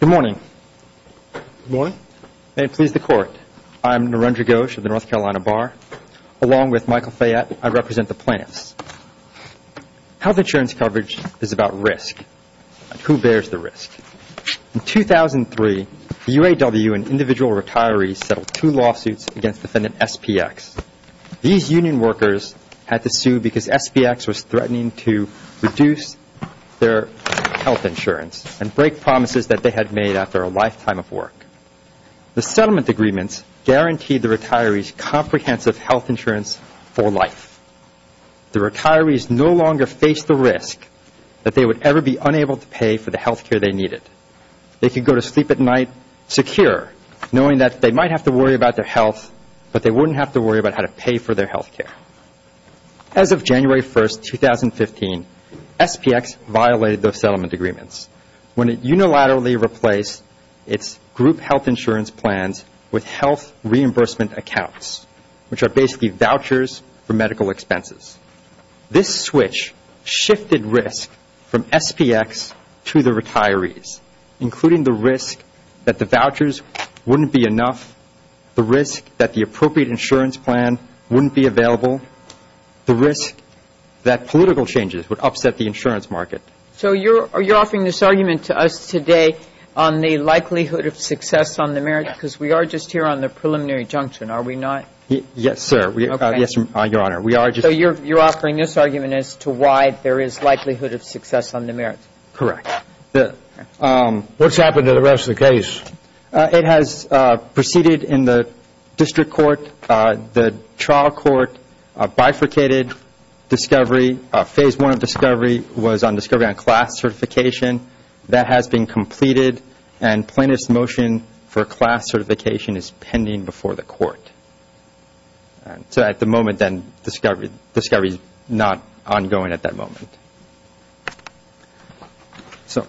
Good morning. Good morning. May it please the Court. I'm Narendra Ghosh of the North Carolina Bar. Along with Michael Fayette, I represent the plaintiffs. Health insurance coverage is about risk. Who bears the risk? In 2003, the UAW and individual retirees settled two lawsuits against defendant SPX. These union workers had to sue because SPX was threatening to reduce their health insurance and break promises that they had made after a lifetime of work. The settlement agreements guaranteed the retirees comprehensive health insurance for life. The retirees no longer faced the risk that they would ever be unable to pay for the health care they needed. They could go to sleep at night secure, knowing that they might have to worry about their health, but they wouldn't have to worry about how to pay for their health care. As of January 1, 2015, SPX violated those settlement agreements when it unilaterally replaced its group health insurance plans with health reimbursement accounts, which are basically vouchers for medical expenses. This switch shifted risk from SPX to the retirees, including the risk that the vouchers wouldn't be enough, the risk that the appropriate insurance plan wouldn't be available, the risk that political changes would upset the insurance market. So you're offering this argument to us today on the likelihood of success on the merits, because we are just here on the preliminary junction, are we not? Yes, sir. Yes, Your Honor. So you're offering this argument as to why there is likelihood of success on the merits? Correct. What's happened to the rest of the case? It has proceeded in the district court. The trial court bifurcated discovery. Phase one of discovery was on discovery on class certification. That has been completed, and plaintiff's motion for class certification is pending before the court. So at the moment, then, discovery is not ongoing at that moment. So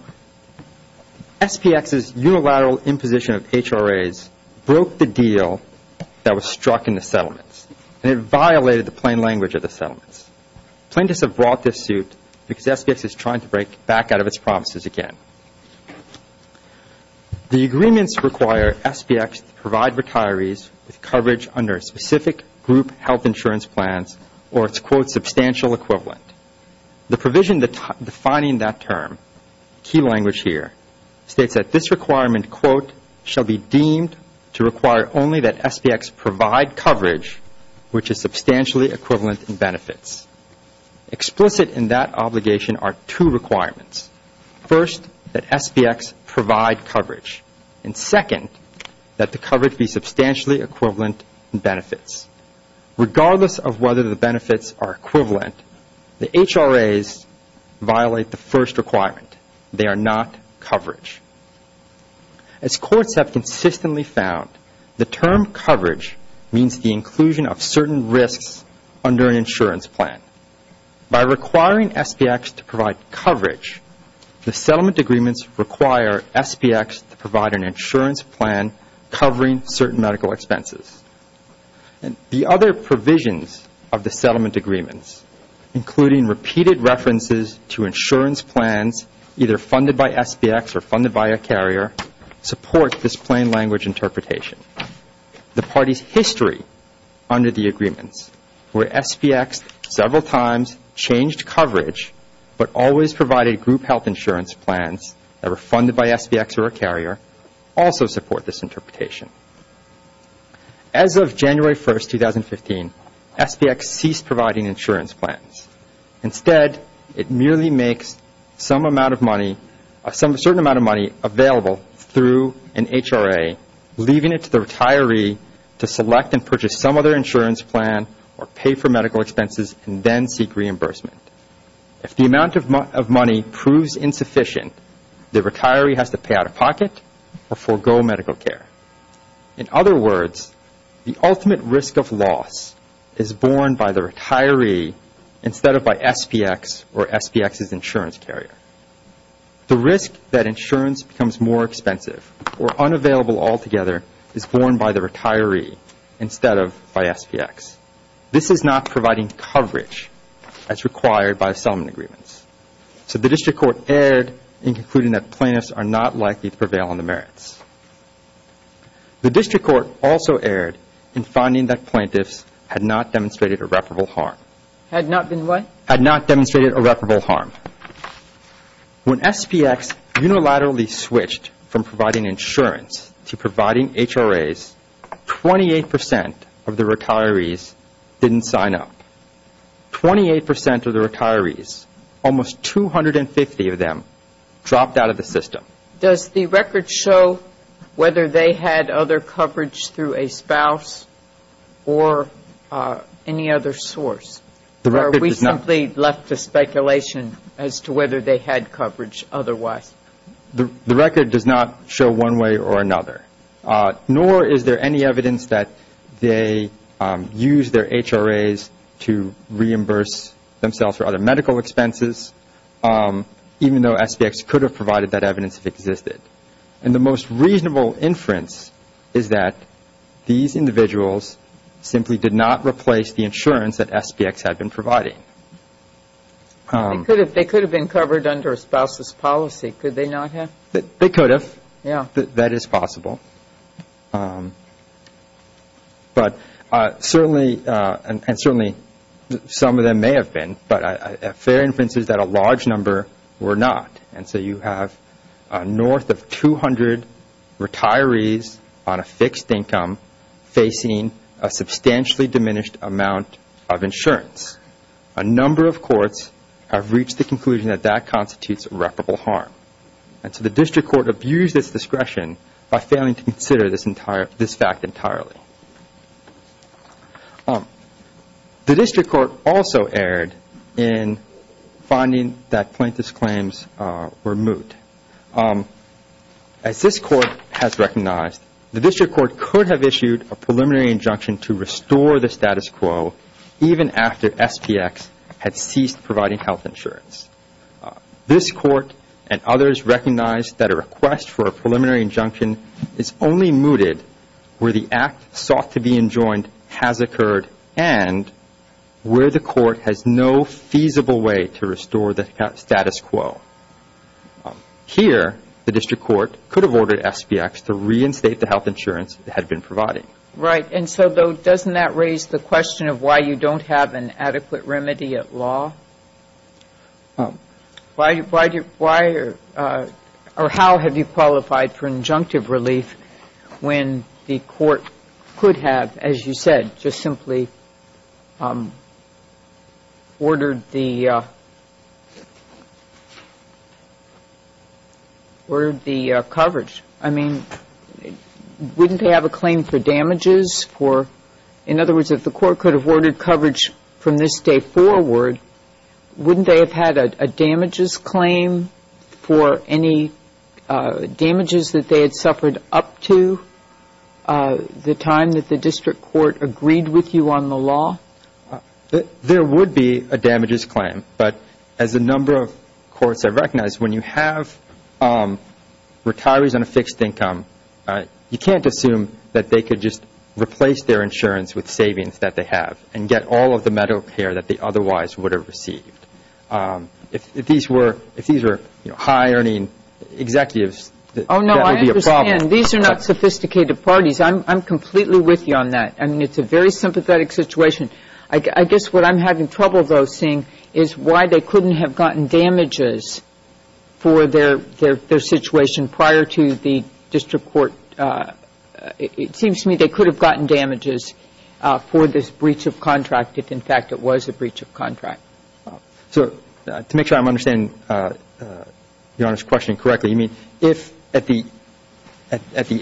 SPX's unilateral imposition of HRAs broke the deal that was struck in the settlements, and it violated the plain language of the settlements. Plaintiffs have brought this suit because SPX is trying to break back out of its promises again. The agreements require SPX to provide retirees with coverage under specific group health insurance plans or its, quote, substantial equivalent. The provision defining that term, key language here, states that this requirement, quote, shall be deemed to require only that SPX provide coverage which is substantially equivalent in benefits. Explicit in that obligation are two requirements. First, that SPX provide coverage, and second, that the coverage be substantially equivalent in benefits. Regardless of whether the benefits are equivalent, the HRAs violate the first requirement. They are not coverage. As courts have consistently found, the term coverage means the inclusion of certain risks under an insurance plan. By requiring SPX to provide coverage, the settlement agreements require SPX to provide an insurance plan covering certain medical expenses. The other provisions of the settlement agreements, including repeated references to insurance plans either funded by SPX or funded by a carrier, support this plain language interpretation. The party's history under the agreements where SPX several times changed coverage but always provided group health insurance plans that were funded by SPX or a carrier, also support this interpretation. As of January 1, 2015, SPX ceased providing insurance plans. Instead, it merely makes some amount of money, a certain amount of money available through an HRA, leaving it to the retiree to select and purchase some other insurance plan or pay for medical expenses and then seek reimbursement. If the amount of money proves insufficient, the retiree has to pay out of pocket or forego medical care. In other words, the ultimate risk of loss is borne by the retiree instead of by SPX or SPX's insurance carrier. The risk that insurance becomes more expensive or unavailable altogether is borne by the retiree instead of by SPX. This is not providing coverage as required by settlement agreements. So the district court erred in concluding that plaintiffs are not likely to prevail on the merits. The district court also erred in finding that plaintiffs had not demonstrated irreparable harm. Had not been what? Had not demonstrated irreparable harm. When SPX unilaterally switched from providing insurance to providing HRAs, 28 percent of the retirees didn't sign up. Twenty-eight percent of the retirees, almost 250 of them, dropped out of the system. Does the record show whether they had other coverage through a spouse or any other source? Or are we simply left to speculation as to whether they had coverage otherwise? The record does not show one way or another. Nor is there any evidence that they used their HRAs to reimburse themselves for other medical expenses, even though SPX could have provided that evidence if it existed. And the most reasonable inference is that these individuals simply did not replace the insurance that SPX had been providing. They could have been covered under a spouse's policy, could they not have? They could have. Yeah. That is possible. But certainly, and certainly some of them may have been, but a fair inference is that a large number were not. And so you have north of 200 retirees on a fixed income facing a substantially diminished amount of insurance. A number of courts have reached the conclusion that that constitutes reparable harm. And so the district court abused its discretion by failing to consider this fact entirely. The district court also erred in finding that plaintiff's claims were moot. As this court has recognized, the district court could have issued a preliminary injunction to restore the status quo, even after SPX had ceased providing health insurance. This court and others recognize that a request for a preliminary injunction is only mooted where the act sought to be enjoined has occurred and where the court has no feasible way to restore the status quo. Here, the district court could have ordered SPX to reinstate the health insurance it had been providing. Right. And so, though, doesn't that raise the question of why you don't have an adequate remedy at law? Why or how have you qualified for injunctive relief when the court could have, as you said, just simply ordered the coverage? I mean, wouldn't they have a claim for damages? In other words, if the court could have ordered coverage from this day forward, wouldn't they have had a damages claim for any damages that they had suffered up to the time that the district court agreed with you on the law? There would be a damages claim. But as a number of courts have recognized, when you have retirees on a fixed income, you can't assume that they could just replace their insurance with savings that they have and get all of the medical care that they otherwise would have received. If these were high-earning executives, that would be a problem. Oh, no, I understand. These are not sophisticated parties. I'm completely with you on that. I mean, it's a very sympathetic situation. I guess what I'm having trouble, though, is why they couldn't have gotten damages for their situation prior to the district court. It seems to me they could have gotten damages for this breach of contract if, in fact, it was a breach of contract. So to make sure I'm understanding Your Honor's question correctly, you mean if at the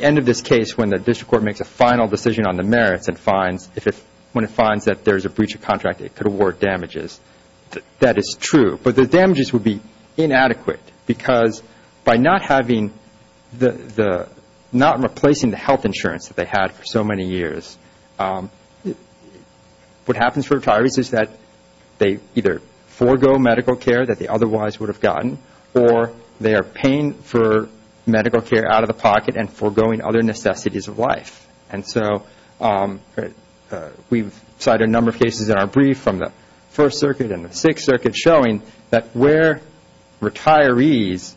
end of this case when the district court makes a final decision on the merits, when it finds that there is a breach of contract, it could award damages. That is true. But the damages would be inadequate because by not replacing the health insurance that they had for so many years, what happens for retirees is that they either forego medical care that they otherwise would have gotten or they are paying for medical care out of the pocket and foregoing other necessities of life. And so we've cited a number of cases in our brief from the First Circuit and the Sixth Circuit showing that where retirees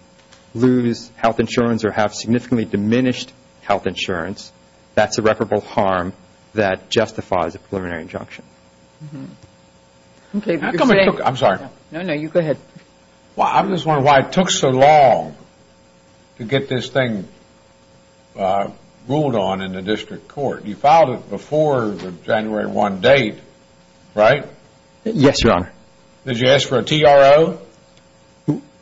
lose health insurance or have significantly diminished health insurance, that's irreparable harm that justifies a preliminary injunction. I'm sorry. No, no, you go ahead. I'm just wondering why it took so long to get this thing ruled on in the district court. You filed it before the January 1 date, right? Yes, Your Honor. Did you ask for a TRO?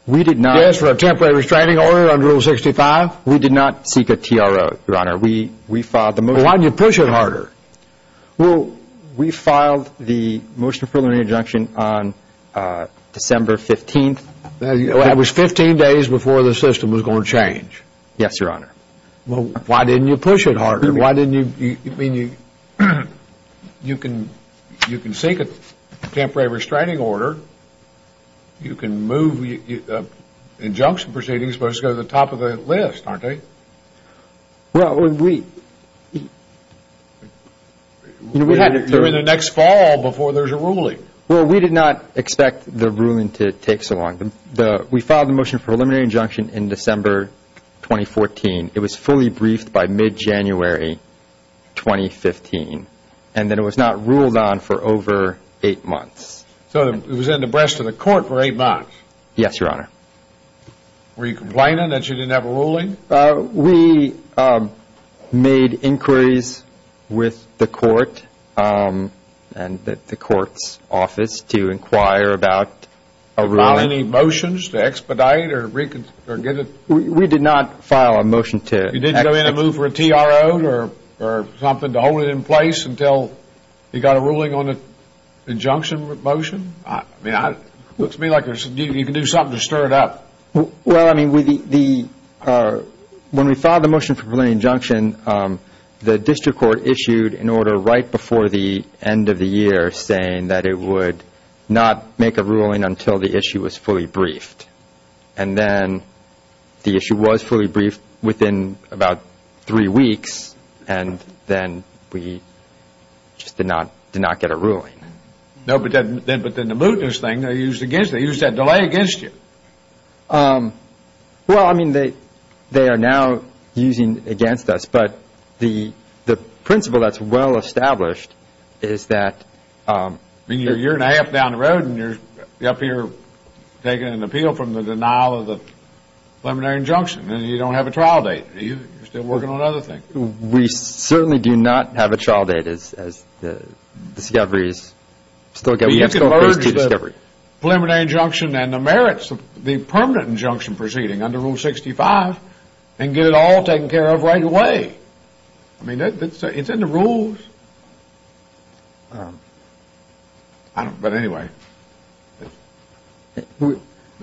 We did not. Did you ask for a temporary restraining order under Rule 65? We did not seek a TRO, Your Honor. Why didn't you push it harder? Well, we filed the motion of preliminary injunction on December 15th. It was 15 days before the system was going to change. Yes, Your Honor. Why didn't you push it harder? I mean, you can seek a temporary restraining order. You can move. Injunction proceedings are supposed to go to the top of the list, aren't they? Well, we had to. You're in the next fall before there's a ruling. Well, we did not expect the ruling to take so long. We filed the motion of preliminary injunction in December 2014. It was fully briefed by mid-January 2015, and then it was not ruled on for over eight months. So it was in the breast of the court for eight months? Yes, Your Honor. Were you complaining that you didn't have a ruling? We made inquiries with the court and the court's office to inquire about a ruling. Did you file any motions to expedite or get it? We did not file a motion to expedite. You didn't go in and move for a TRO or something to hold it in place until you got a ruling on an injunction motion? I mean, it looks to me like you can do something to stir it up. Well, I mean, when we filed the motion for preliminary injunction, the district court issued an order right before the end of the year saying that it would not make a ruling until the issue was fully briefed. And then the issue was fully briefed within about three weeks, and then we just did not get a ruling. No, but then the mootness thing, they used that delay against you. Well, I mean, they are now using it against us, but the principle that's well established is that... I mean, you're a year and a half down the road, and you're up here taking an appeal from the denial of the preliminary injunction, and you don't have a trial date. You're still working on other things. We certainly do not have a trial date as the discovery is... You can merge the preliminary injunction and the merits of the permanent injunction proceeding under Rule 65 and get it all taken care of right away. I mean, it's in the rules. But anyway, maybe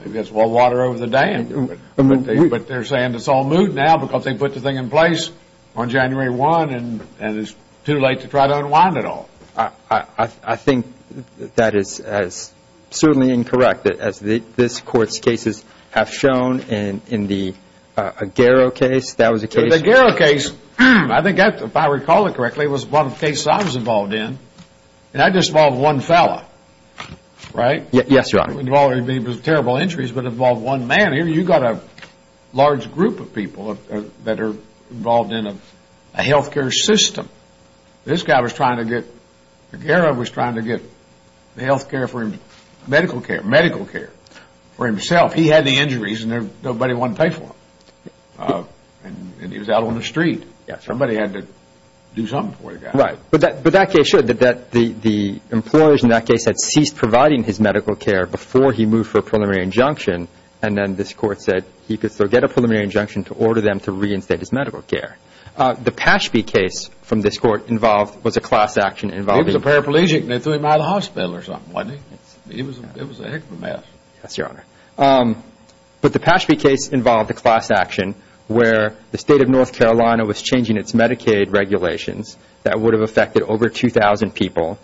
that's well water over the dam. But they're saying it's all moot now because they put the thing in place on January 1, and it's too late to try to unwind it all. I think that is certainly incorrect. As this Court's cases have shown in the Aguero case, that was a case... The Aguero case, if I recall it correctly, was one of the cases I was involved in. And I was just involved with one fellow, right? Yes, Your Honor. I was involved with terrible injuries, but involved one man. You've got a large group of people that are involved in a health care system. This guy was trying to get... Aguero was trying to get medical care for himself. He had the injuries, and nobody wanted to pay for them. And he was out on the street. Somebody had to do something for the guy. Right. But that case showed that the employers in that case had ceased providing his medical care before he moved for a preliminary injunction, and then this Court said he could still get a preliminary injunction to order them to reinstate his medical care. The Pashby case from this Court was a class action involving... It was a paraplegic, and they threw him out of the hospital or something, wasn't it? It was a heck of a mess. Yes, Your Honor. But the Pashby case involved a class action where the State of North Carolina was changing its Medicaid regulations that would have affected over 2,000 people.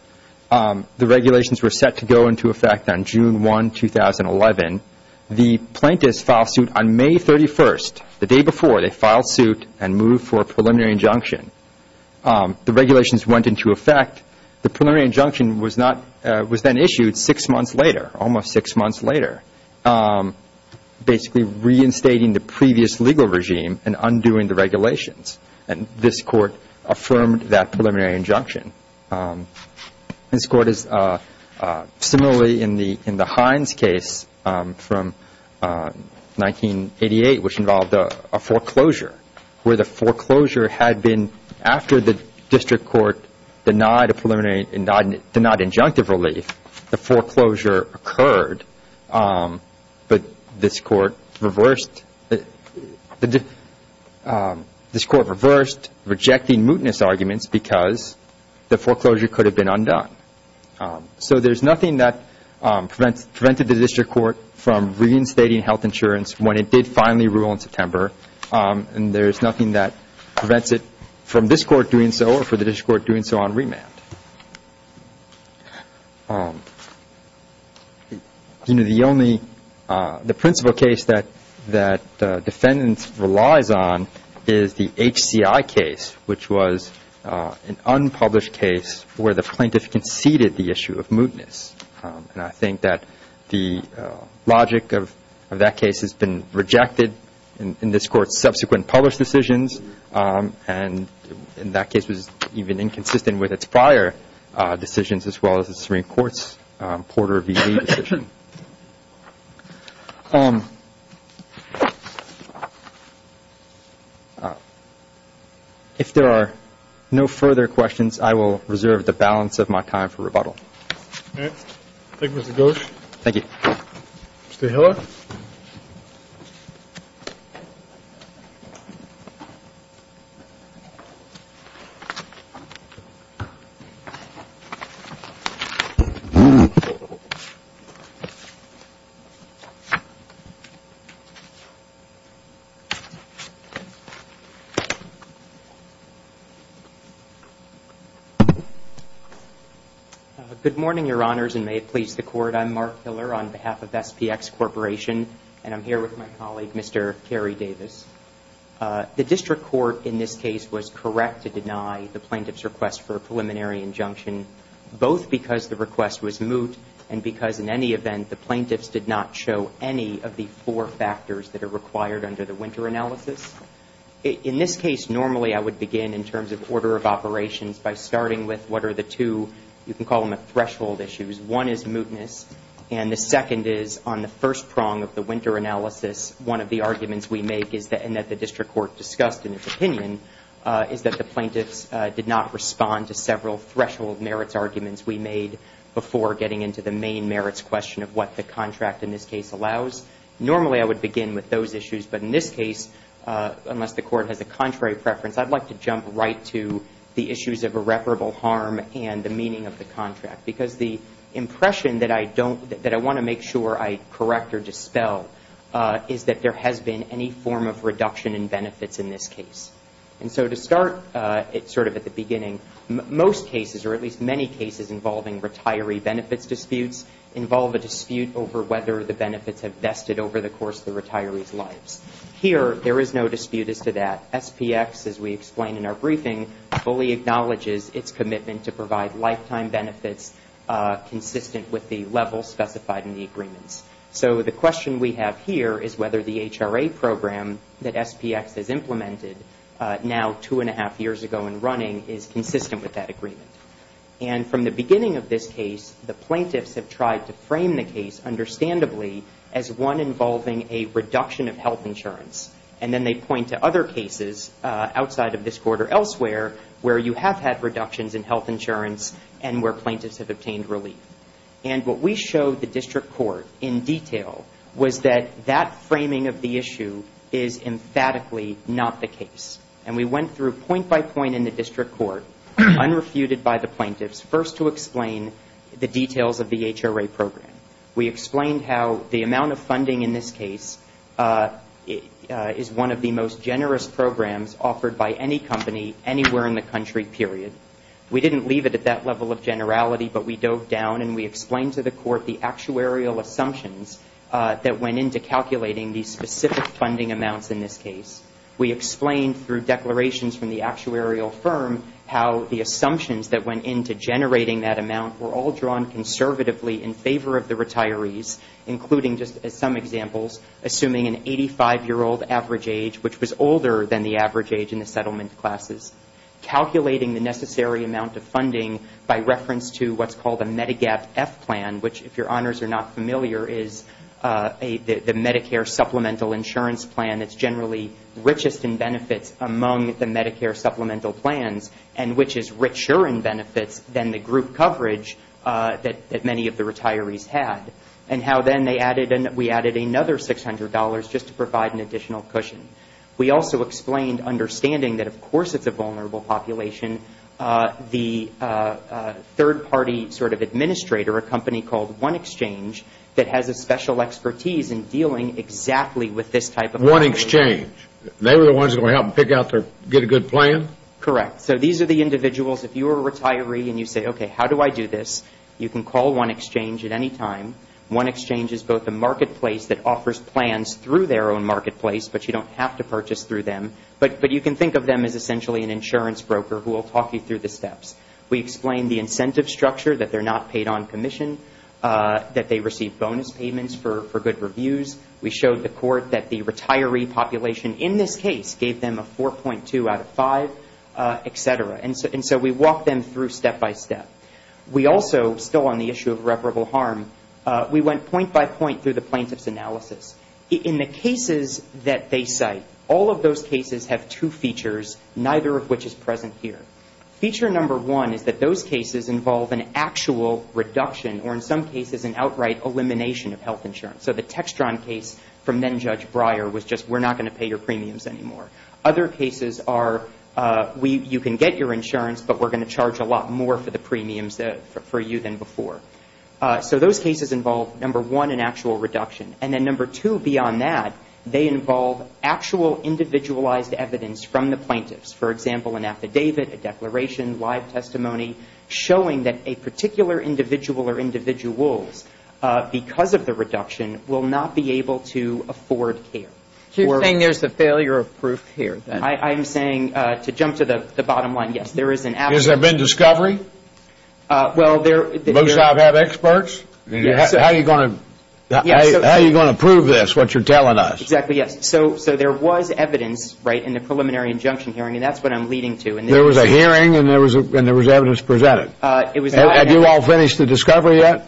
The regulations were set to go into effect on June 1, 2011. The plaintiffs filed suit on May 31st, the day before they filed suit and moved for a preliminary injunction. The regulations went into effect. The preliminary injunction was then issued six months later, almost six months later, basically reinstating the previous legal regime and undoing the regulations. And this Court affirmed that preliminary injunction. This Court is similarly in the Hines case from 1988, which involved a foreclosure where the foreclosure had been, after the district court denied injunctive relief, the foreclosure occurred, but this Court reversed rejecting mootness arguments because the foreclosure could have been undone. So there's nothing that prevented the district court from reinstating health insurance when it did finally rule in September, and there's nothing that prevents it from this court doing so or for the district court doing so on remand. You know, the only, the principal case that defendants relies on is the HCI case, which was an unpublished case where the plaintiff conceded the issue of mootness. And I think that the logic of that case has been rejected in this Court's subsequent published decisions, and that case was even inconsistent with its prior decisions, as well as the Supreme Court's Porter v. Wade decision. If there are no further questions, I will reserve the balance of my time for rebuttal. Thank you, Mr. Ghosh. Thank you. Mr. Hiller? Good morning, Your Honors, and may it please the Court. I'm Mark Hiller on behalf of SPX Corporation, and I'm here with my colleague, Mr. Kerry Davis. The district court in this case was correct to deny the plaintiff's request for a preliminary injunction, both because the request was moot and because, in any event, the plaintiffs did not show any of the four factors that are required under the winter analysis. In this case, normally I would begin in terms of order of operations by starting with what are the two, you can call them threshold issues. One is mootness, and the second is, on the first prong of the winter analysis, one of the arguments we make is that, and that the district court discussed in its opinion, is that the plaintiffs did not respond to several threshold merits arguments we made before getting into the main merits question of what the contract in this case allows. Normally I would begin with those issues, but in this case, unless the Court has a contrary preference, I'd like to jump right to the issues of irreparable harm and the meaning of the contract, because the impression that I want to make sure I correct or dispel is that there has been any form of reduction in benefits in this case. And so to start sort of at the beginning, most cases, or at least many cases involving retiree benefits disputes, involve a dispute over whether the benefits have vested over the course of the retiree's lives. Here, there is no dispute as to that. SPX, as we explain in our briefing, fully acknowledges its commitment to provide lifetime benefits consistent with the level specified in the agreements. So the question we have here is whether the HRA program that SPX has implemented, now two and a half years ago and running, is consistent with that agreement. And from the beginning of this case, the plaintiffs have tried to frame the case, understandably, as one involving a reduction of health insurance. And then they point to other cases, outside of this court or elsewhere, where you have had reductions in health insurance and where plaintiffs have obtained relief. And what we showed the district court in detail was that that framing of the issue is emphatically not the case. And we went through point by point in the district court, unrefuted by the plaintiffs, first to explain the details of the HRA program. We explained how the amount of funding in this case is one of the most generous programs offered by any company anywhere in the country, period. We didn't leave it at that level of generality, but we dove down and we explained to the court the actuarial assumptions that went into calculating the specific funding amounts in this case. We explained, through declarations from the actuarial firm, how the assumptions that went into generating that amount were all drawn conservatively in favor of the retirees, including just as some examples, assuming an 85-year-old average age, which was older than the average age in the settlement classes. Calculating the necessary amount of funding by reference to what's called a Medigap F plan, which if your honors are not familiar is the Medicare supplemental insurance plan that's generally richest in benefits among the Medicare supplemental plans and which is richer in benefits than the group coverage that many of the retirees had. And how then we added another $600 just to provide an additional cushion. We also explained understanding that, of course, it's a vulnerable population. The third-party sort of administrator, a company called One Exchange, that has a special expertise in dealing exactly with this type of population. One Exchange. They were the ones that were going to help pick out their, get a good plan? Correct. So these are the individuals. If you were a retiree and you say, okay, how do I do this? You can call One Exchange at any time. One Exchange is both a marketplace that offers plans through their own marketplace, but you don't have to purchase through them. But you can think of them as essentially an insurance broker who will talk you through the steps. We explained the incentive structure, that they're not paid on commission, that they receive bonus payments for good reviews. We showed the court that the retiree population in this case gave them a 4.2 out of 5, et cetera. And so we walked them through step by step. We also, still on the issue of reparable harm, we went point by point through the plaintiff's analysis. In the cases that they cite, all of those cases have two features, neither of which is present here. Feature number one is that those cases involve an actual reduction, or in some cases an outright elimination of health insurance. So the Textron case from then-Judge Breyer was just, we're not going to pay your premiums anymore. Other cases are, you can get your insurance, but we're going to charge a lot more for the premiums for you than before. So those cases involve, number one, an actual reduction. And then number two, beyond that, they involve actual individualized evidence from the plaintiffs. For example, an affidavit, a declaration, live testimony, showing that a particular individual or individuals, because of the reduction, will not be able to afford care. So you're saying there's a failure of proof here? I'm saying, to jump to the bottom line, yes, there is an affidavit. Has there been discovery? Well, there Most of them have experts? How are you going to prove this, what you're telling us? Exactly, yes. So there was evidence, right, in the preliminary injunction hearing, and that's what I'm leading to. There was a hearing, and there was evidence presented? It was not Have you all finished the discovery yet?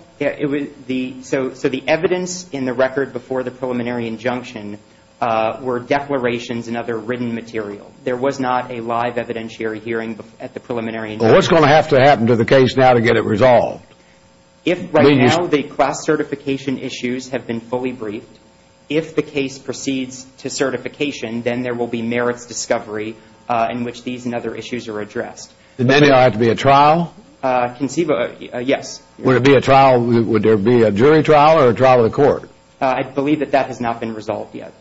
So the evidence in the record before the preliminary injunction were declarations and other written material. There was not a live evidentiary hearing at the preliminary injunction. Well, what's going to have to happen to the case now to get it resolved? Right now, the class certification issues have been fully briefed. If the case proceeds to certification, then there will be merits discovery in which these and other issues are addressed. Then there will have to be a trial? Yes. Would there be a jury trial or a trial of the court? I believe that that has not been resolved yet.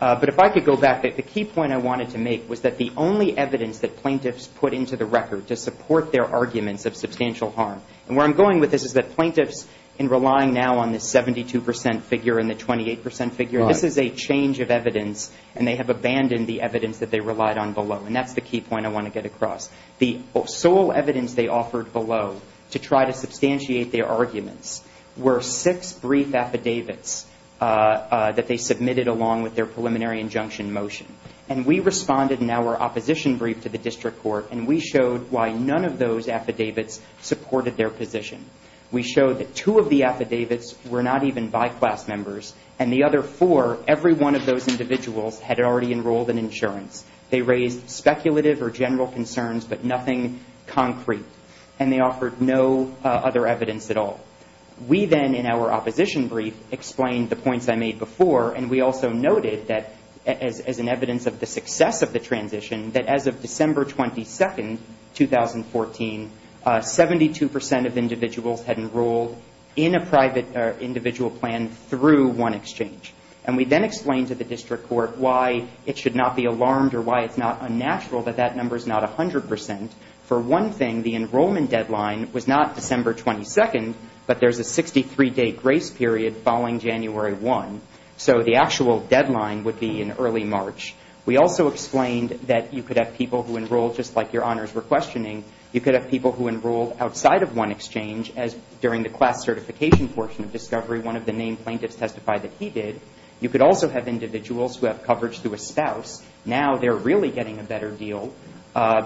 But if I could go back, the key point I wanted to make was that the only evidence that plaintiffs put into the record to support their arguments of substantial harm, and where I'm going with this is that plaintiffs, in relying now on the 72 percent figure and the 28 percent figure, this is a change of evidence, and they have abandoned the evidence that they relied on below, and that's the key point I want to get across. The sole evidence they offered below to try to substantiate their arguments were six brief affidavits that they submitted along with their preliminary injunction motion. And we responded in our opposition brief to the district court, and we showed why none of those affidavits supported their position. We showed that two of the affidavits were not even by class members, and the other four, every one of those individuals had already enrolled in insurance. They raised speculative or general concerns, but nothing concrete. And they offered no other evidence at all. We then, in our opposition brief, explained the points I made before, and we also noted that as an evidence of the success of the transition, that as of December 22, 2014, 72 percent of individuals had enrolled in a private individual plan through one exchange. And we then explained to the district court why it should not be alarmed or why it's not unnatural that that number is not 100 percent. For one thing, the enrollment deadline was not December 22, but there's a 63-day grace period following January 1. So the actual deadline would be in early March. We also explained that you could have people who enroll, just like Your Honors were questioning, you could have people who enroll outside of one exchange, as during the class certification portion of discovery, one of the named plaintiffs testified that he did. You could also have individuals who have coverage through a spouse. Now they're really getting a better deal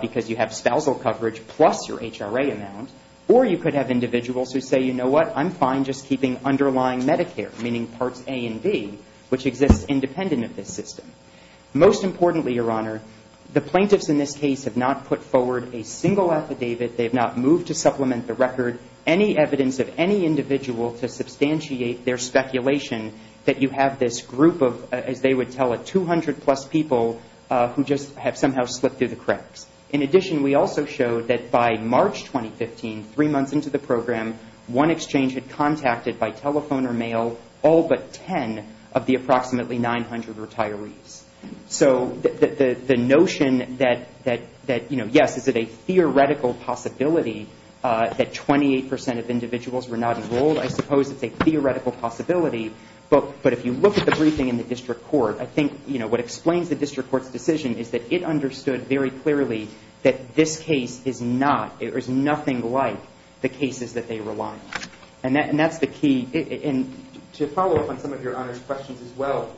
because you have spousal coverage plus your HRA amount. Or you could have individuals who say, you know what, I'm fine just keeping underlying Medicare, meaning Parts A and B, which exists independent of this system. Most importantly, Your Honor, the plaintiffs in this case have not put forward a single affidavit. They have not moved to supplement the record. Any evidence of any individual to substantiate their speculation that you have this group of, as they would tell it, 200-plus people who just have somehow slipped through the cracks. In addition, we also showed that by March 2015, three months into the program, one exchange had contacted by telephone or mail all but 10 of the approximately 900 retirees. So the notion that, you know, yes, is it a theoretical possibility that 28 percent of individuals were not enrolled? I suppose it's a theoretical possibility. But if you look at the briefing in the district court, I think, you know, what explains the district court's decision is that it understood very clearly that this case is not, or is nothing like the cases that they rely on. And that's the key. And to follow up on some of Your Honor's questions as well,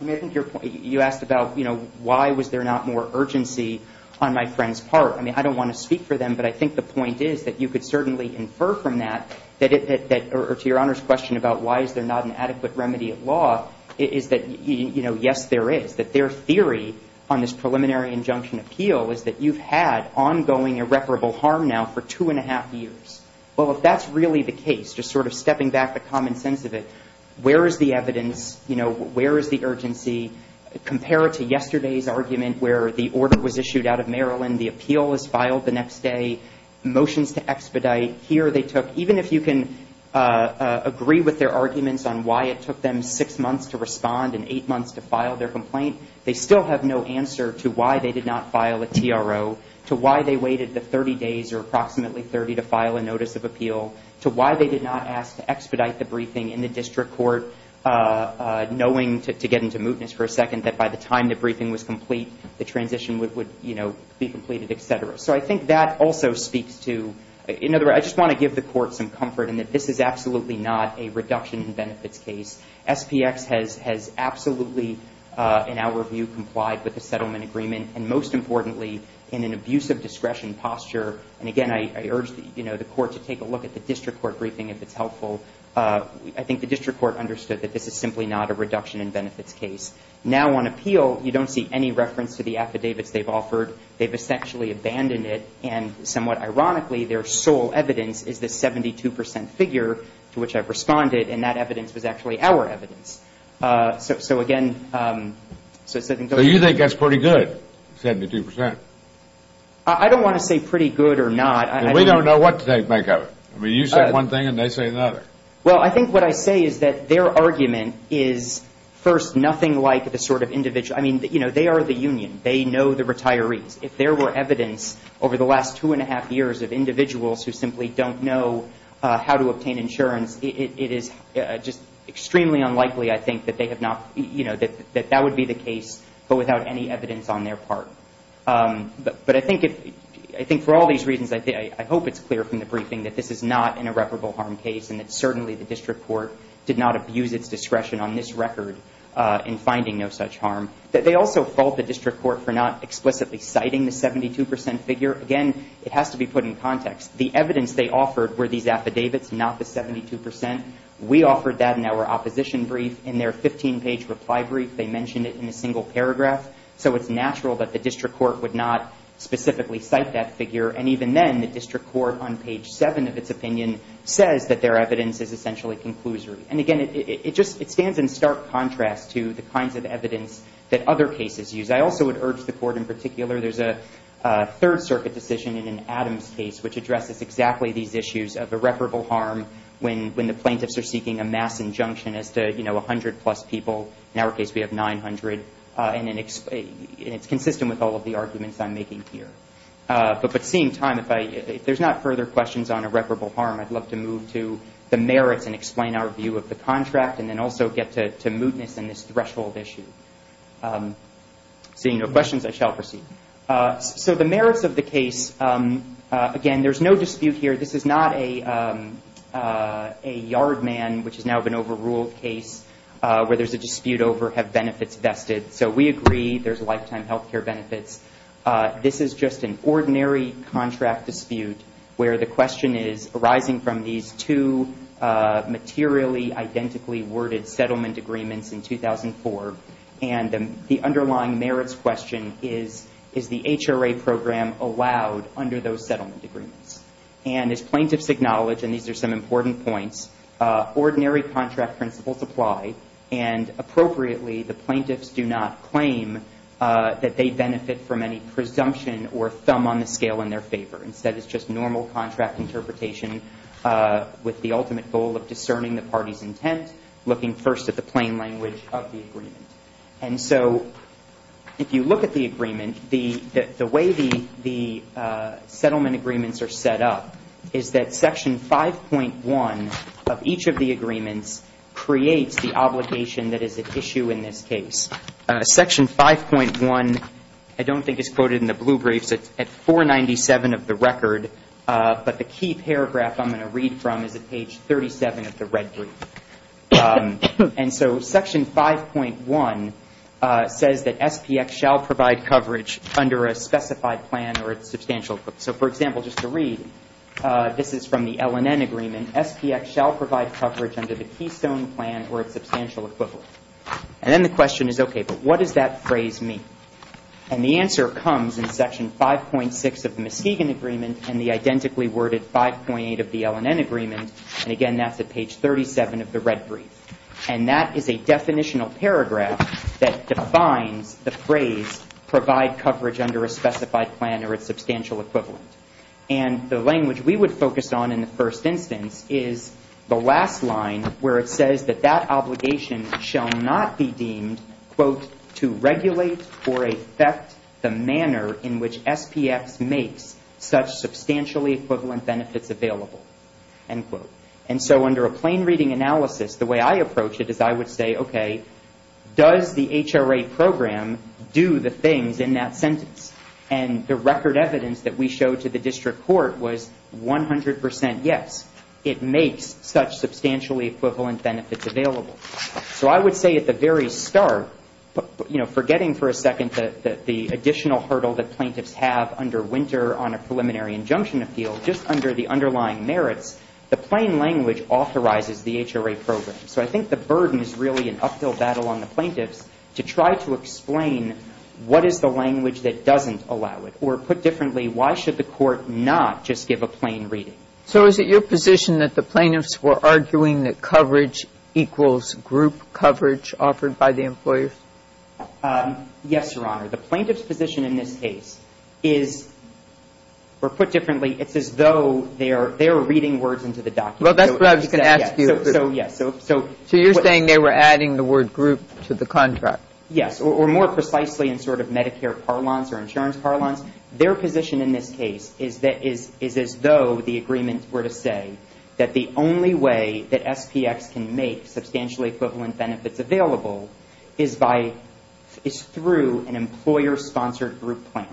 I mean, I think your point, you asked about, you know, why was there not more urgency on my friend's part? I mean, I don't want to speak for them, but I think the point is that you could certainly infer from that, or to Your Honor's question about why is there not an adequate remedy of law, is that, you know, yes, there is. That their theory on this preliminary injunction appeal is that you've had ongoing irreparable harm now for two and a half years. Well, if that's really the case, just sort of stepping back the common sense of it, where is the evidence, you know, where is the urgency compared to yesterday's argument where the order was issued out of Maryland, the appeal was filed the next day, motions to expedite, here they took, even if you can agree with their arguments on why it took them six months to respond and eight months to file their complaint, they still have no answer to why they did not file a TRO, to why they waited the 30 days or approximately 30 to file a notice of appeal, to why they did not ask to expedite the briefing in the district court, knowing to get into mootness for a second that by the time the briefing was complete, the transition would, you know, be completed, et cetera. So I think that also speaks to, in other words, I just want to give the Court some comfort in that this is absolutely not a reduction in benefits case. SPX has absolutely, in our view, complied with the settlement agreement, and most importantly, in an abuse of discretion posture, and again, I urge, you know, the Court to take a look at the district court briefing if it's helpful. I think the district court understood that this is simply not a reduction in benefits case. Now on appeal, you don't see any reference to the affidavits they've offered. They've essentially abandoned it, and somewhat ironically, their sole evidence is the 72 percent figure to which I've responded, and that evidence was actually our evidence. So again, so I think those are the two. So you think that's pretty good, 72 percent? I don't want to say pretty good or not. We don't know what to make of it. I mean, you say one thing and they say another. Well, I think what I say is that their argument is, first, nothing like the sort of individual. I mean, you know, they are the union. They know the retirees. If there were evidence over the last two and a half years of individuals who simply don't know how to obtain insurance, it is just extremely unlikely, I think, that they have not, you know, that that would be the case, but without any evidence on their part. But I think for all these reasons, I hope it's clear from the briefing that this is not an irreparable harm case and that certainly the district court did not abuse its discretion on this record in finding no such harm. They also fault the district court for not explicitly citing the 72 percent figure. Again, it has to be put in context. The evidence they offered were these affidavits, not the 72 percent. We offered that in our opposition brief. In their 15-page reply brief, they mentioned it in a single paragraph. So it's natural that the district court would not specifically cite that figure. And even then, the district court on page 7 of its opinion says that their evidence is essentially conclusory. And, again, it just stands in stark contrast to the kinds of evidence that other cases use. I also would urge the court in particular. There's a Third Circuit decision in Adam's case which addresses exactly these issues of irreparable harm when the plaintiffs are seeking a mass injunction as to, you know, 100-plus people. In our case, we have 900. And it's consistent with all of the arguments I'm making here. But at the same time, if there's not further questions on irreparable harm, I'd love to move to the merits and explain our view of the contract and then also get to mootness in this threshold issue. Seeing no questions, I shall proceed. So the merits of the case, again, there's no dispute here. This is not a yard man which has now been overruled case where there's a dispute over have benefits vested. So we agree there's lifetime health care benefits. This is just an ordinary contract dispute where the question is arising from these two materially identically worded And the underlying merits question is, is the HRA program allowed under those settlement agreements? And as plaintiffs acknowledge, and these are some important points, ordinary contract principles apply. And appropriately, the plaintiffs do not claim that they benefit from any presumption or thumb on the scale in their favor. Instead, it's just normal contract interpretation with the ultimate goal of discerning the party's intent, looking first at the plain language of the agreement. And so if you look at the agreement, the way the settlement agreements are set up, is that Section 5.1 of each of the agreements creates the obligation that is at issue in this case. Section 5.1, I don't think it's quoted in the blue briefs, it's at 497 of the record, but the key paragraph I'm going to read from is at page 37 of the red brief. And so Section 5.1 says that SPX shall provide coverage under a specified plan or its substantial equivalent. So for example, just to read, this is from the LNN agreement, SPX shall provide coverage under the Keystone plan or its substantial equivalent. And then the question is, okay, but what does that phrase mean? And the answer comes in Section 5.6 of the Muskegon agreement and the identically worded 5.8 of the LNN agreement. And again, that's at page 37 of the red brief. And that is a definitional paragraph that defines the phrase provide coverage under a specified plan or its substantial equivalent. And the language we would focus on in the first instance is the last line where it says that that obligation shall not be deemed, quote, to regulate or affect the manner in which SPX makes such substantially equivalent benefits available, end quote. And so under a plain reading analysis, the way I approach it is I would say, okay, does the HRA program do the things in that sentence? And the record evidence that we showed to the district court was 100 percent yes. It makes such substantially equivalent benefits available. So I would say at the very start, you know, forgetting for a second that the additional hurdle that plaintiffs have under winter on a preliminary injunction appeal, just under the underlying merits, the plain language authorizes the HRA program. So I think the burden is really an uphill battle on the plaintiffs to try to explain what is the language that doesn't allow it, or put differently, why should the court not just give a plain reading? So is it your position that the plaintiffs were arguing that coverage equals group coverage offered by the employers? Yes, Your Honor. The plaintiffs' position in this case is, or put differently, it's as though they are reading words into the document. Well, that's what I was going to ask you. So, yes. So you're saying they were adding the word group to the contract. Yes, or more precisely in sort of Medicare parlance or insurance parlance. Their position in this case is that, is as though the agreement were to say that the only way that SPX can make substantially equivalent benefits available is by, is through an employer-sponsored group plan.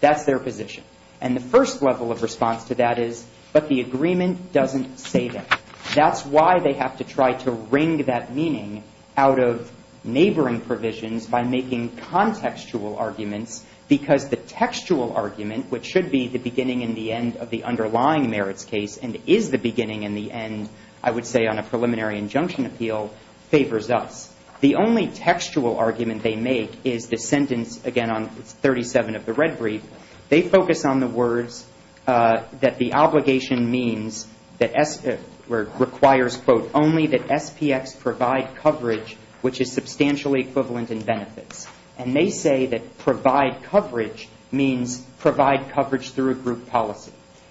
That's their position. And the first level of response to that is, but the agreement doesn't say that. That's why they have to try to wring that meaning out of neighboring provisions by making contextual arguments, because the textual argument, which should be the beginning and the end of the underlying merits case, and is the beginning and the end, I would say, on a preliminary injunction appeal, favors us. The only textual argument they make is the sentence, again, on 37 of the red brief. They focus on the words that the obligation means that requires, quote, only that SPX provide coverage which is substantially equivalent in benefits. And they say that provide coverage means provide coverage through a group policy.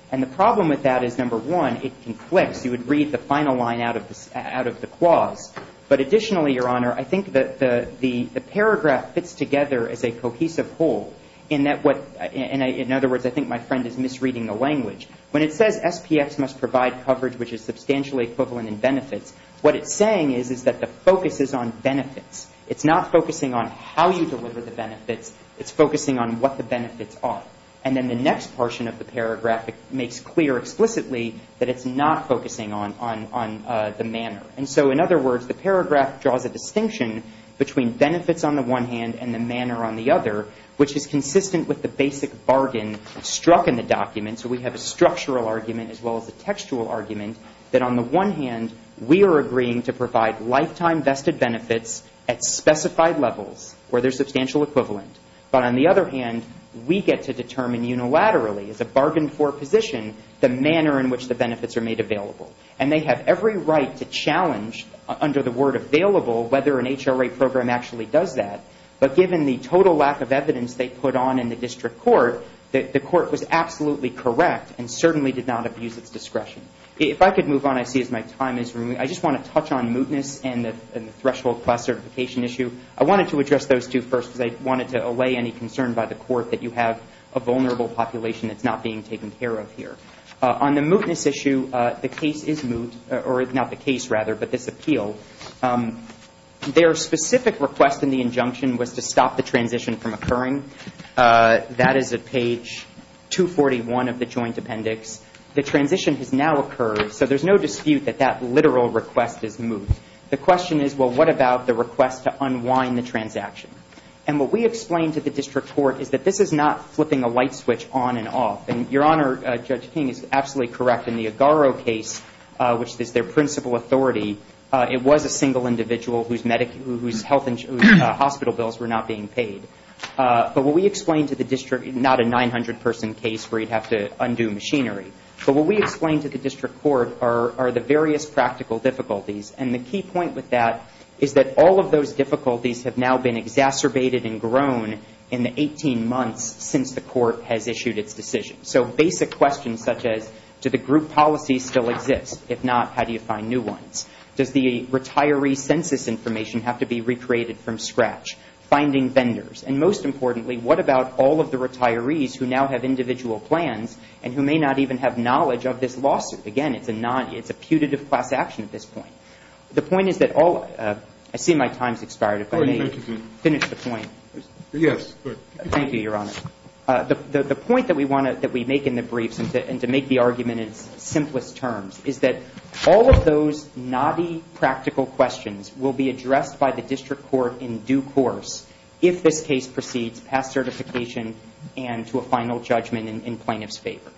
And the problem with that is, number one, it conflicts. You would read the final line out of the clause. But additionally, Your Honor, I think that the paragraph fits together as a cohesive whole in that what, in other words, I think my friend is misreading the language. When it says SPX must provide coverage which is substantially equivalent in benefits, what it's saying is, is that the focus is on benefits. It's not focusing on how you deliver the benefits. It's focusing on what the benefits are. And then the next portion of the paragraph makes clear explicitly that it's not focusing on the manner. And so, in other words, the paragraph draws a distinction between benefits on the one hand and the manner on the other, which is consistent with the basic bargain struck in the document. So we have a structural argument as well as a textual argument that, on the one hand, we are agreeing to provide lifetime vested benefits at specified levels where they're substantial equivalent. But on the other hand, we get to determine unilaterally, as a bargain for position, the manner in which the benefits are made available. And they have every right to challenge under the word available whether an HRA program actually does that. But given the total lack of evidence they put on in the district court, the court was absolutely correct and certainly did not abuse its discretion. If I could move on, I see as my time is running. I just want to touch on mootness and the threshold class certification issue. I wanted to address those two first because I wanted to allay any concern by the court that you have a vulnerable population that's not being taken care of here. On the mootness issue, the case is moot, or not the case, rather, but this appeal. Their specific request in the injunction was to stop the transition from occurring. That is at page 241 of the joint appendix. The transition has now occurred, so there's no dispute that that literal request is moot. The question is, well, what about the request to unwind the transaction? And what we explained to the district court is that this is not flipping a light switch on and off. And Your Honor, Judge King is absolutely correct. In the Agaro case, which is their principal authority, it was a single individual whose hospital bills were not being paid. But what we explained to the district, not a 900-person case where you'd have to undo machinery, but what we explained to the district court are the various practical difficulties. And the key point with that is that all of those difficulties have now been exacerbated and grown in the 18 months since the court has issued its decision. So basic questions such as, do the group policies still exist? If not, how do you find new ones? Does the retiree census information have to be recreated from scratch? Finding vendors? And most importantly, what about all of the retirees who now have individual plans and who may not even have knowledge of this lawsuit? Again, it's a putative class action at this point. The point is that all of the – I see my time has expired. If I may finish the point. Yes, go ahead. Thank you, Your Honor. The point that we make in the briefs and to make the argument in its simplest terms is that all of those knotty practical questions will be addressed by the district court in due course if this case proceeds past certification and to a final judgment in plaintiff's favor.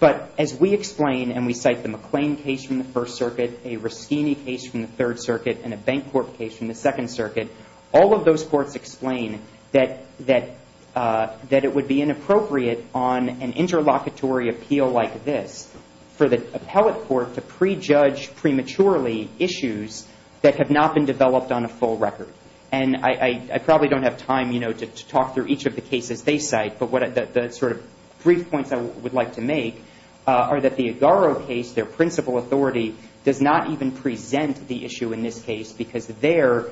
But as we explain, and we cite the McLean case from the First Circuit, a Ruschini case from the Third Circuit, and a Bancorp case from the Second Circuit, all of those courts explain that it would be inappropriate on an interlocutory appeal like this for the appellate court to prejudge prematurely issues that have not been developed on a full record. And I probably don't have time to talk through each of the cases they cite, but the sort of brief points I would like to make are that the Agaro case, their principal authority does not even present the issue in this case because there,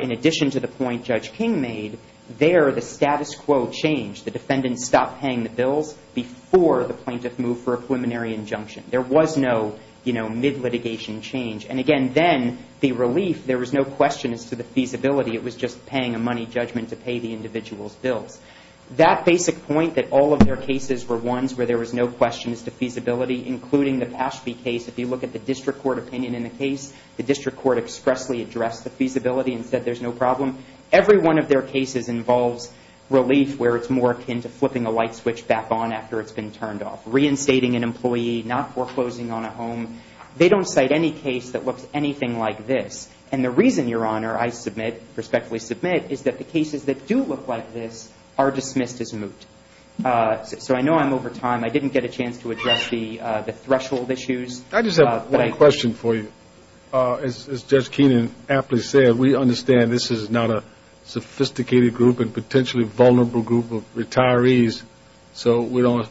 in addition to the point Judge King made, there the status quo changed. The defendant stopped paying the bills before the plaintiff moved for a preliminary injunction. There was no, you know, mid-litigation change. And again, then the relief, there was no question as to the feasibility. It was just paying a money judgment to pay the individual's bills. That basic point that all of their cases were ones where there was no question as to feasibility, including the Paschke case, if you look at the district court opinion in the case, the district court expressly addressed the feasibility and said there's no problem. Every one of their cases involves relief where it's more akin to flipping a light switch back on after it's been turned off, reinstating an employee, not foreclosing on a home. They don't cite any case that looks anything like this. And the reason, Your Honor, I submit, respectfully submit, is that the cases that do look like this are dismissed as moot. So I know I'm over time. I didn't get a chance to address the threshold issues. I just have one question for you. As Judge Keenan aptly said, we understand this is not a sophisticated group and potentially vulnerable group of retirees, so we don't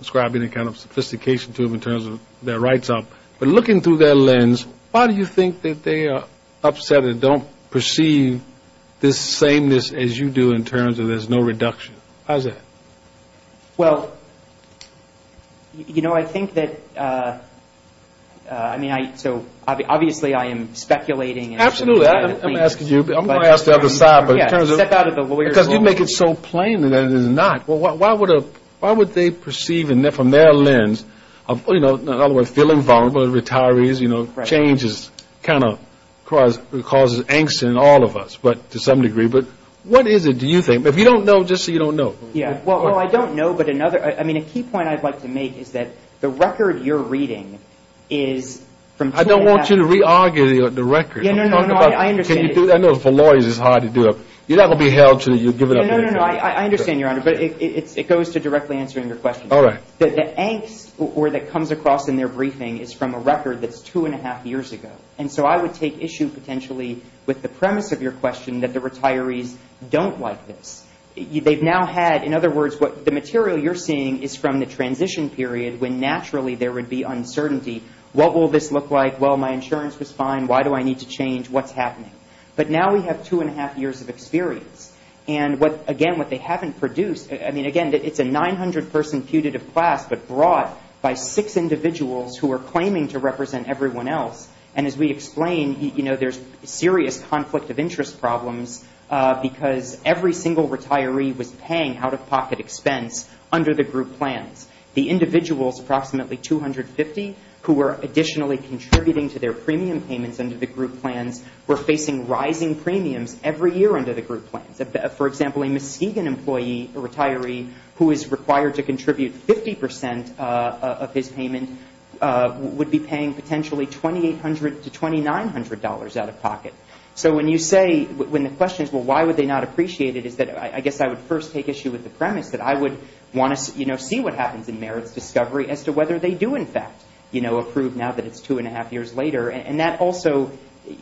ascribe any kind of sophistication to them in terms of their rights. But looking through that lens, why do you think that they are upset and don't perceive this sameness as you do in terms of there's no reduction? How's that? Well, you know, I think that, I mean, so obviously I am speculating. Absolutely. I'm going to ask the other side. Step out of the lawyer's role. Because you make it so plain that it is not. Why would they perceive from their lens of, you know, in other words, feeling vulnerable to retirees, you know, changes kind of causes angst in all of us to some degree. But what is it, do you think? If you don't know, just so you don't know. Yeah. Well, I don't know, but another, I mean, a key point I'd like to make is that the record you're reading is from I don't want you to re-argue the record. No, no, no, I understand. I know for lawyers it's hard to do it. You're not going to be held until you give it up. No, no, no, I understand, Your Honor, but it goes to directly answering your question. All right. The angst that comes across in their briefing is from a record that's two and a half years ago. And so I would take issue potentially with the premise of your question that the retirees don't like this. They've now had, in other words, the material you're seeing is from the transition period when naturally there would be uncertainty. What will this look like? Well, my insurance was fine. Why do I need to change? What's happening? But now we have two and a half years of experience. And, again, what they haven't produced, I mean, again, it's a 900-person putative class, but brought by six individuals who are claiming to represent everyone else. And as we explained, you know, there's serious conflict of interest problems because every single retiree was paying out-of-pocket expense under the group plans. The individuals, approximately 250, who were additionally contributing to their premium payments under the group plans, were facing rising premiums every year under the group plans. For example, a Muskegon employee, a retiree, who is required to contribute 50 percent of his payment would be paying potentially $2,800 to $2,900 out-of-pocket. So when you say, when the question is, well, why would they not appreciate it, is that I guess I would first take issue with the premise that I would want to, you know, see what happens in merits discovery as to whether they do, in fact, you know, approve now that it's two and a half years later. And that also,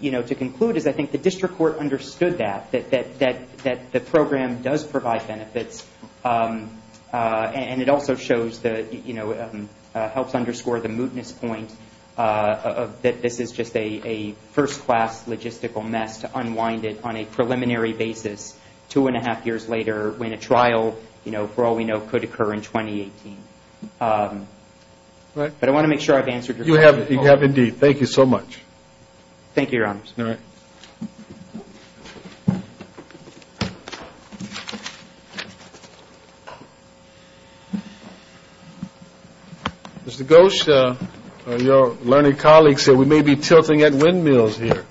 you know, to conclude is I think the district court understood that, that the program does provide benefits. And it also shows that, you know, helps underscore the mootness point that this is just a first-class logistical mess to unwind it on a preliminary basis, two and a half years later when a trial, you know, for all we know, could occur in 2018. But I want to make sure I've answered your question. You have indeed. Thank you so much. Thank you, Your Honor. All right. Mr. Gosha, your learned colleagues here, we may be tilting at windmills here,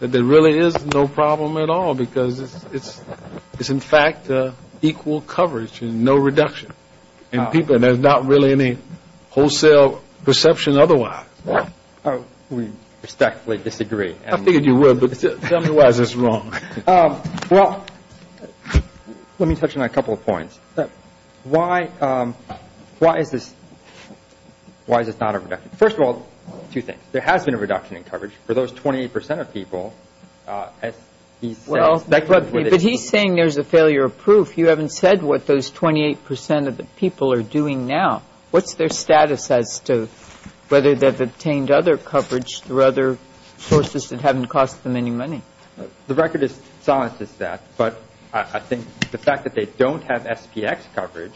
but there really is no problem at all because it's, in fact, equal coverage and no reduction. And there's not really any wholesale perception otherwise. We respectfully disagree. I figured you would, but tell me why this is wrong. Well, let me touch on a couple of points. Why is this not a reduction? First of all, two things. There has been a reduction in coverage for those 28 percent of people. But he's saying there's a failure of proof. If you haven't said what those 28 percent of the people are doing now, what's their status as to whether they've obtained other coverage through other sources that haven't cost them any money? The record is as honest as that. But I think the fact that they don't have SPX coverage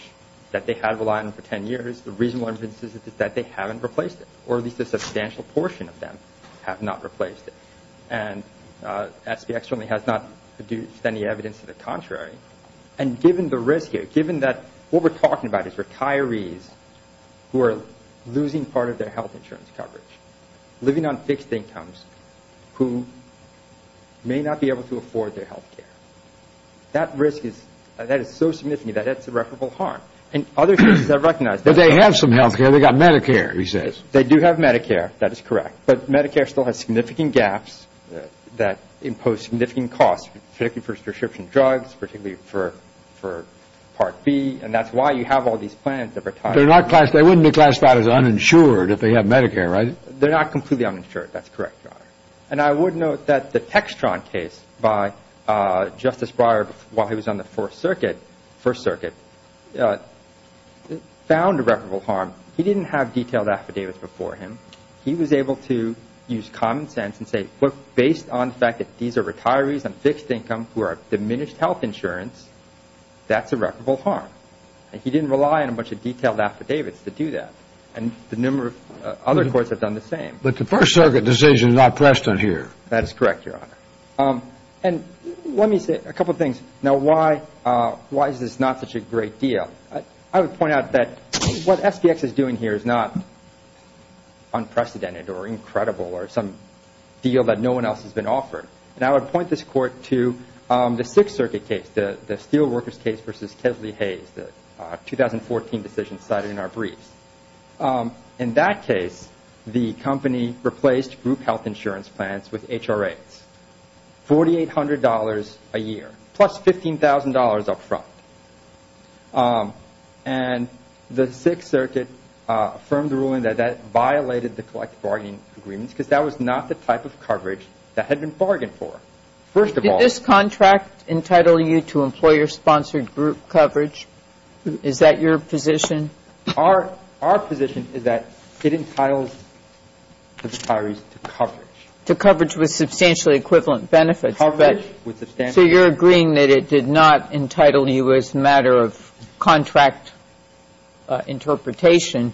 that they have relied on for 10 years, the reasonable inference is that they haven't replaced it, or at least a substantial portion of them have not replaced it. And SPX certainly has not produced any evidence to the contrary. And given the risk here, given that what we're talking about is retirees who are losing part of their health insurance coverage, living on fixed incomes, who may not be able to afford their health care, that risk is so significant that it's irreparable harm. And other sources have recognized that. But they have some health care. They've got Medicare, he says. They do have Medicare. That is correct. But Medicare still has significant gaps that impose significant costs, particularly for prescription drugs, particularly for Part B. And that's why you have all these plans of retirees. They wouldn't be classified as uninsured if they have Medicare, right? They're not completely uninsured. That's correct, Your Honor. And I would note that the Textron case by Justice Breyer while he was on the First Circuit found irreparable harm. He didn't have detailed affidavits before him. He was able to use common sense and say, based on the fact that these are retirees on fixed income who have diminished health insurance, that's irreparable harm. And he didn't rely on a bunch of detailed affidavits to do that. And the number of other courts have done the same. But the First Circuit decision is not precedent here. That is correct, Your Honor. And let me say a couple of things. Now, why is this not such a great deal? I would point out that what SBX is doing here is not unprecedented or incredible or some deal that no one else has been offered. And I would point this Court to the Sixth Circuit case, the Steelworkers case versus Kesley Hayes, the 2014 decision cited in our briefs. In that case, the company replaced group health insurance plans with HRAs, $4,800 a year plus $15,000 up front. And the Sixth Circuit affirmed the ruling that that violated the collective bargaining agreements because that was not the type of coverage that had been bargained for, first of all. Did this contract entitle you to employer-sponsored group coverage? Is that your position? Our position is that it entitles retirees to coverage. To coverage with substantially equivalent benefits. So you're agreeing that it did not entitle you as a matter of contract interpretation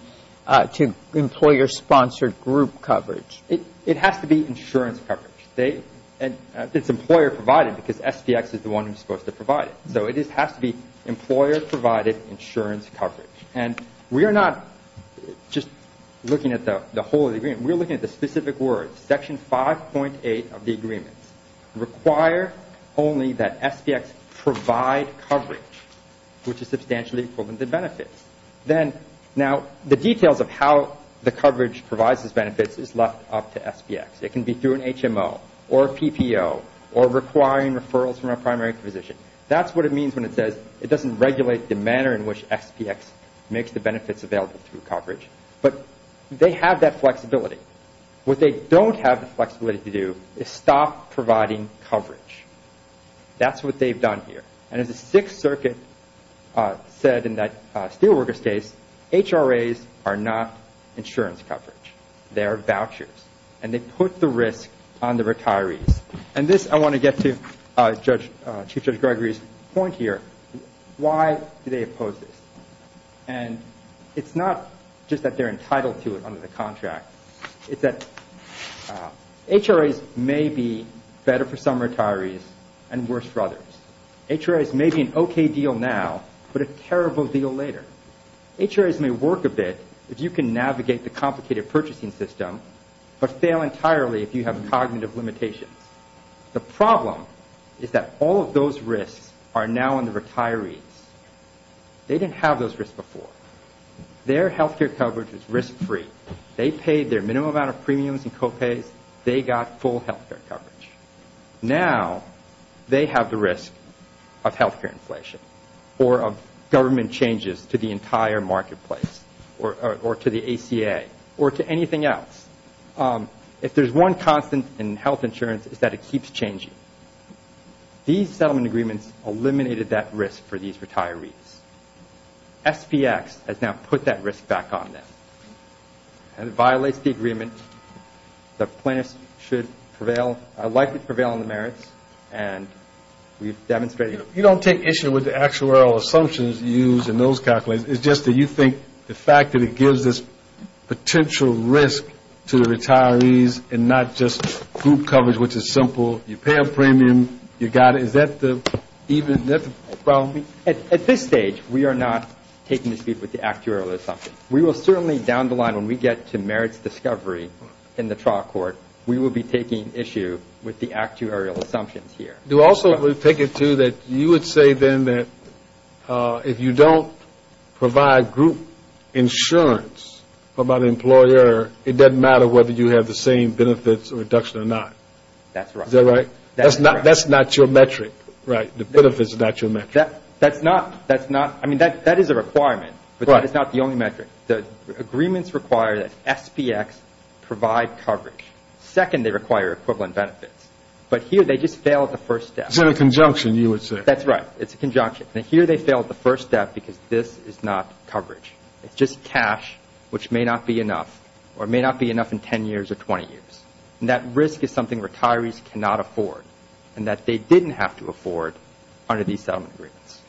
to employer-sponsored group coverage? It has to be insurance coverage. It's employer-provided because SBX is the one who's supposed to provide it. So it has to be employer-provided insurance coverage. And we are not just looking at the whole agreement. We're looking at the specific words. Section 5.8 of the agreements require only that SBX provide coverage, which is substantially equivalent to benefits. Now, the details of how the coverage provides its benefits is left up to SBX. It can be through an HMO or a PPO or requiring referrals from a primary physician. That's what it means when it says it doesn't regulate the manner in which SBX makes the benefits available through coverage. But they have that flexibility. What they don't have the flexibility to do is stop providing coverage. That's what they've done here. And as the Sixth Circuit said in that Steelworkers case, HRAs are not insurance coverage. They are vouchers. And they put the risk on the retirees. And this I want to get to Chief Judge Gregory's point here. Why do they oppose this? And it's not just that they're entitled to it under the contract. It's that HRAs may be better for some retirees and worse for others. HRAs may be an okay deal now but a terrible deal later. HRAs may work a bit if you can navigate the complicated purchasing system but fail entirely if you have cognitive limitations. The problem is that all of those risks are now on the retirees. They didn't have those risks before. Their health care coverage was risk-free. They paid their minimum amount of premiums and copays. They got full health care coverage. Now they have the risk of health care inflation or of government changes to the entire marketplace or to the ACA or to anything else. If there's one constant in health insurance, it's that it keeps changing. These settlement agreements eliminated that risk for these retirees. SPX has now put that risk back on them. And it violates the agreement. The plaintiffs should prevail, likely prevail on the merits. And we've demonstrated it. You don't take issue with the actuarial assumptions you use in those calculations. It's just that you think the fact that it gives this potential risk to the retirees and not just group coverage, which is simple. You pay a premium. You got it. Is that the problem? At this stage, we are not taking this with the actuarial assumption. We will certainly, down the line, when we get to merits discovery in the trial court, we will be taking issue with the actuarial assumptions here. You also would take it, too, that you would say then that if you don't provide group insurance about an employer, it doesn't matter whether you have the same benefits reduction or not. That's right. Is that right? That's not your metric, right? The benefits is not your metric. That's not. That's not. It's not the only metric. The agreements require that SBX provide coverage. Second, they require equivalent benefits. But here they just fail at the first step. Is that a conjunction, you would say? That's right. It's a conjunction. And here they fail at the first step because this is not coverage. It's just cash, which may not be enough or may not be enough in 10 years or 20 years. And that risk is something retirees cannot afford and that they didn't have to afford under these settlement agreements.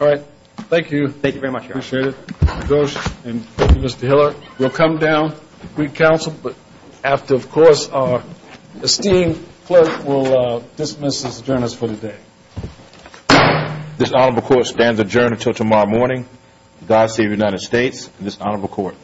All right. Thank you. Thank you very much. I appreciate it. Mr. Ghosh and Mr. Hiller, we'll come down. We counsel. But after, of course, our esteemed clerk will dismiss his adjournance for the day. This honorable court stands adjourned until tomorrow morning. The Diocese of the United States and this honorable court.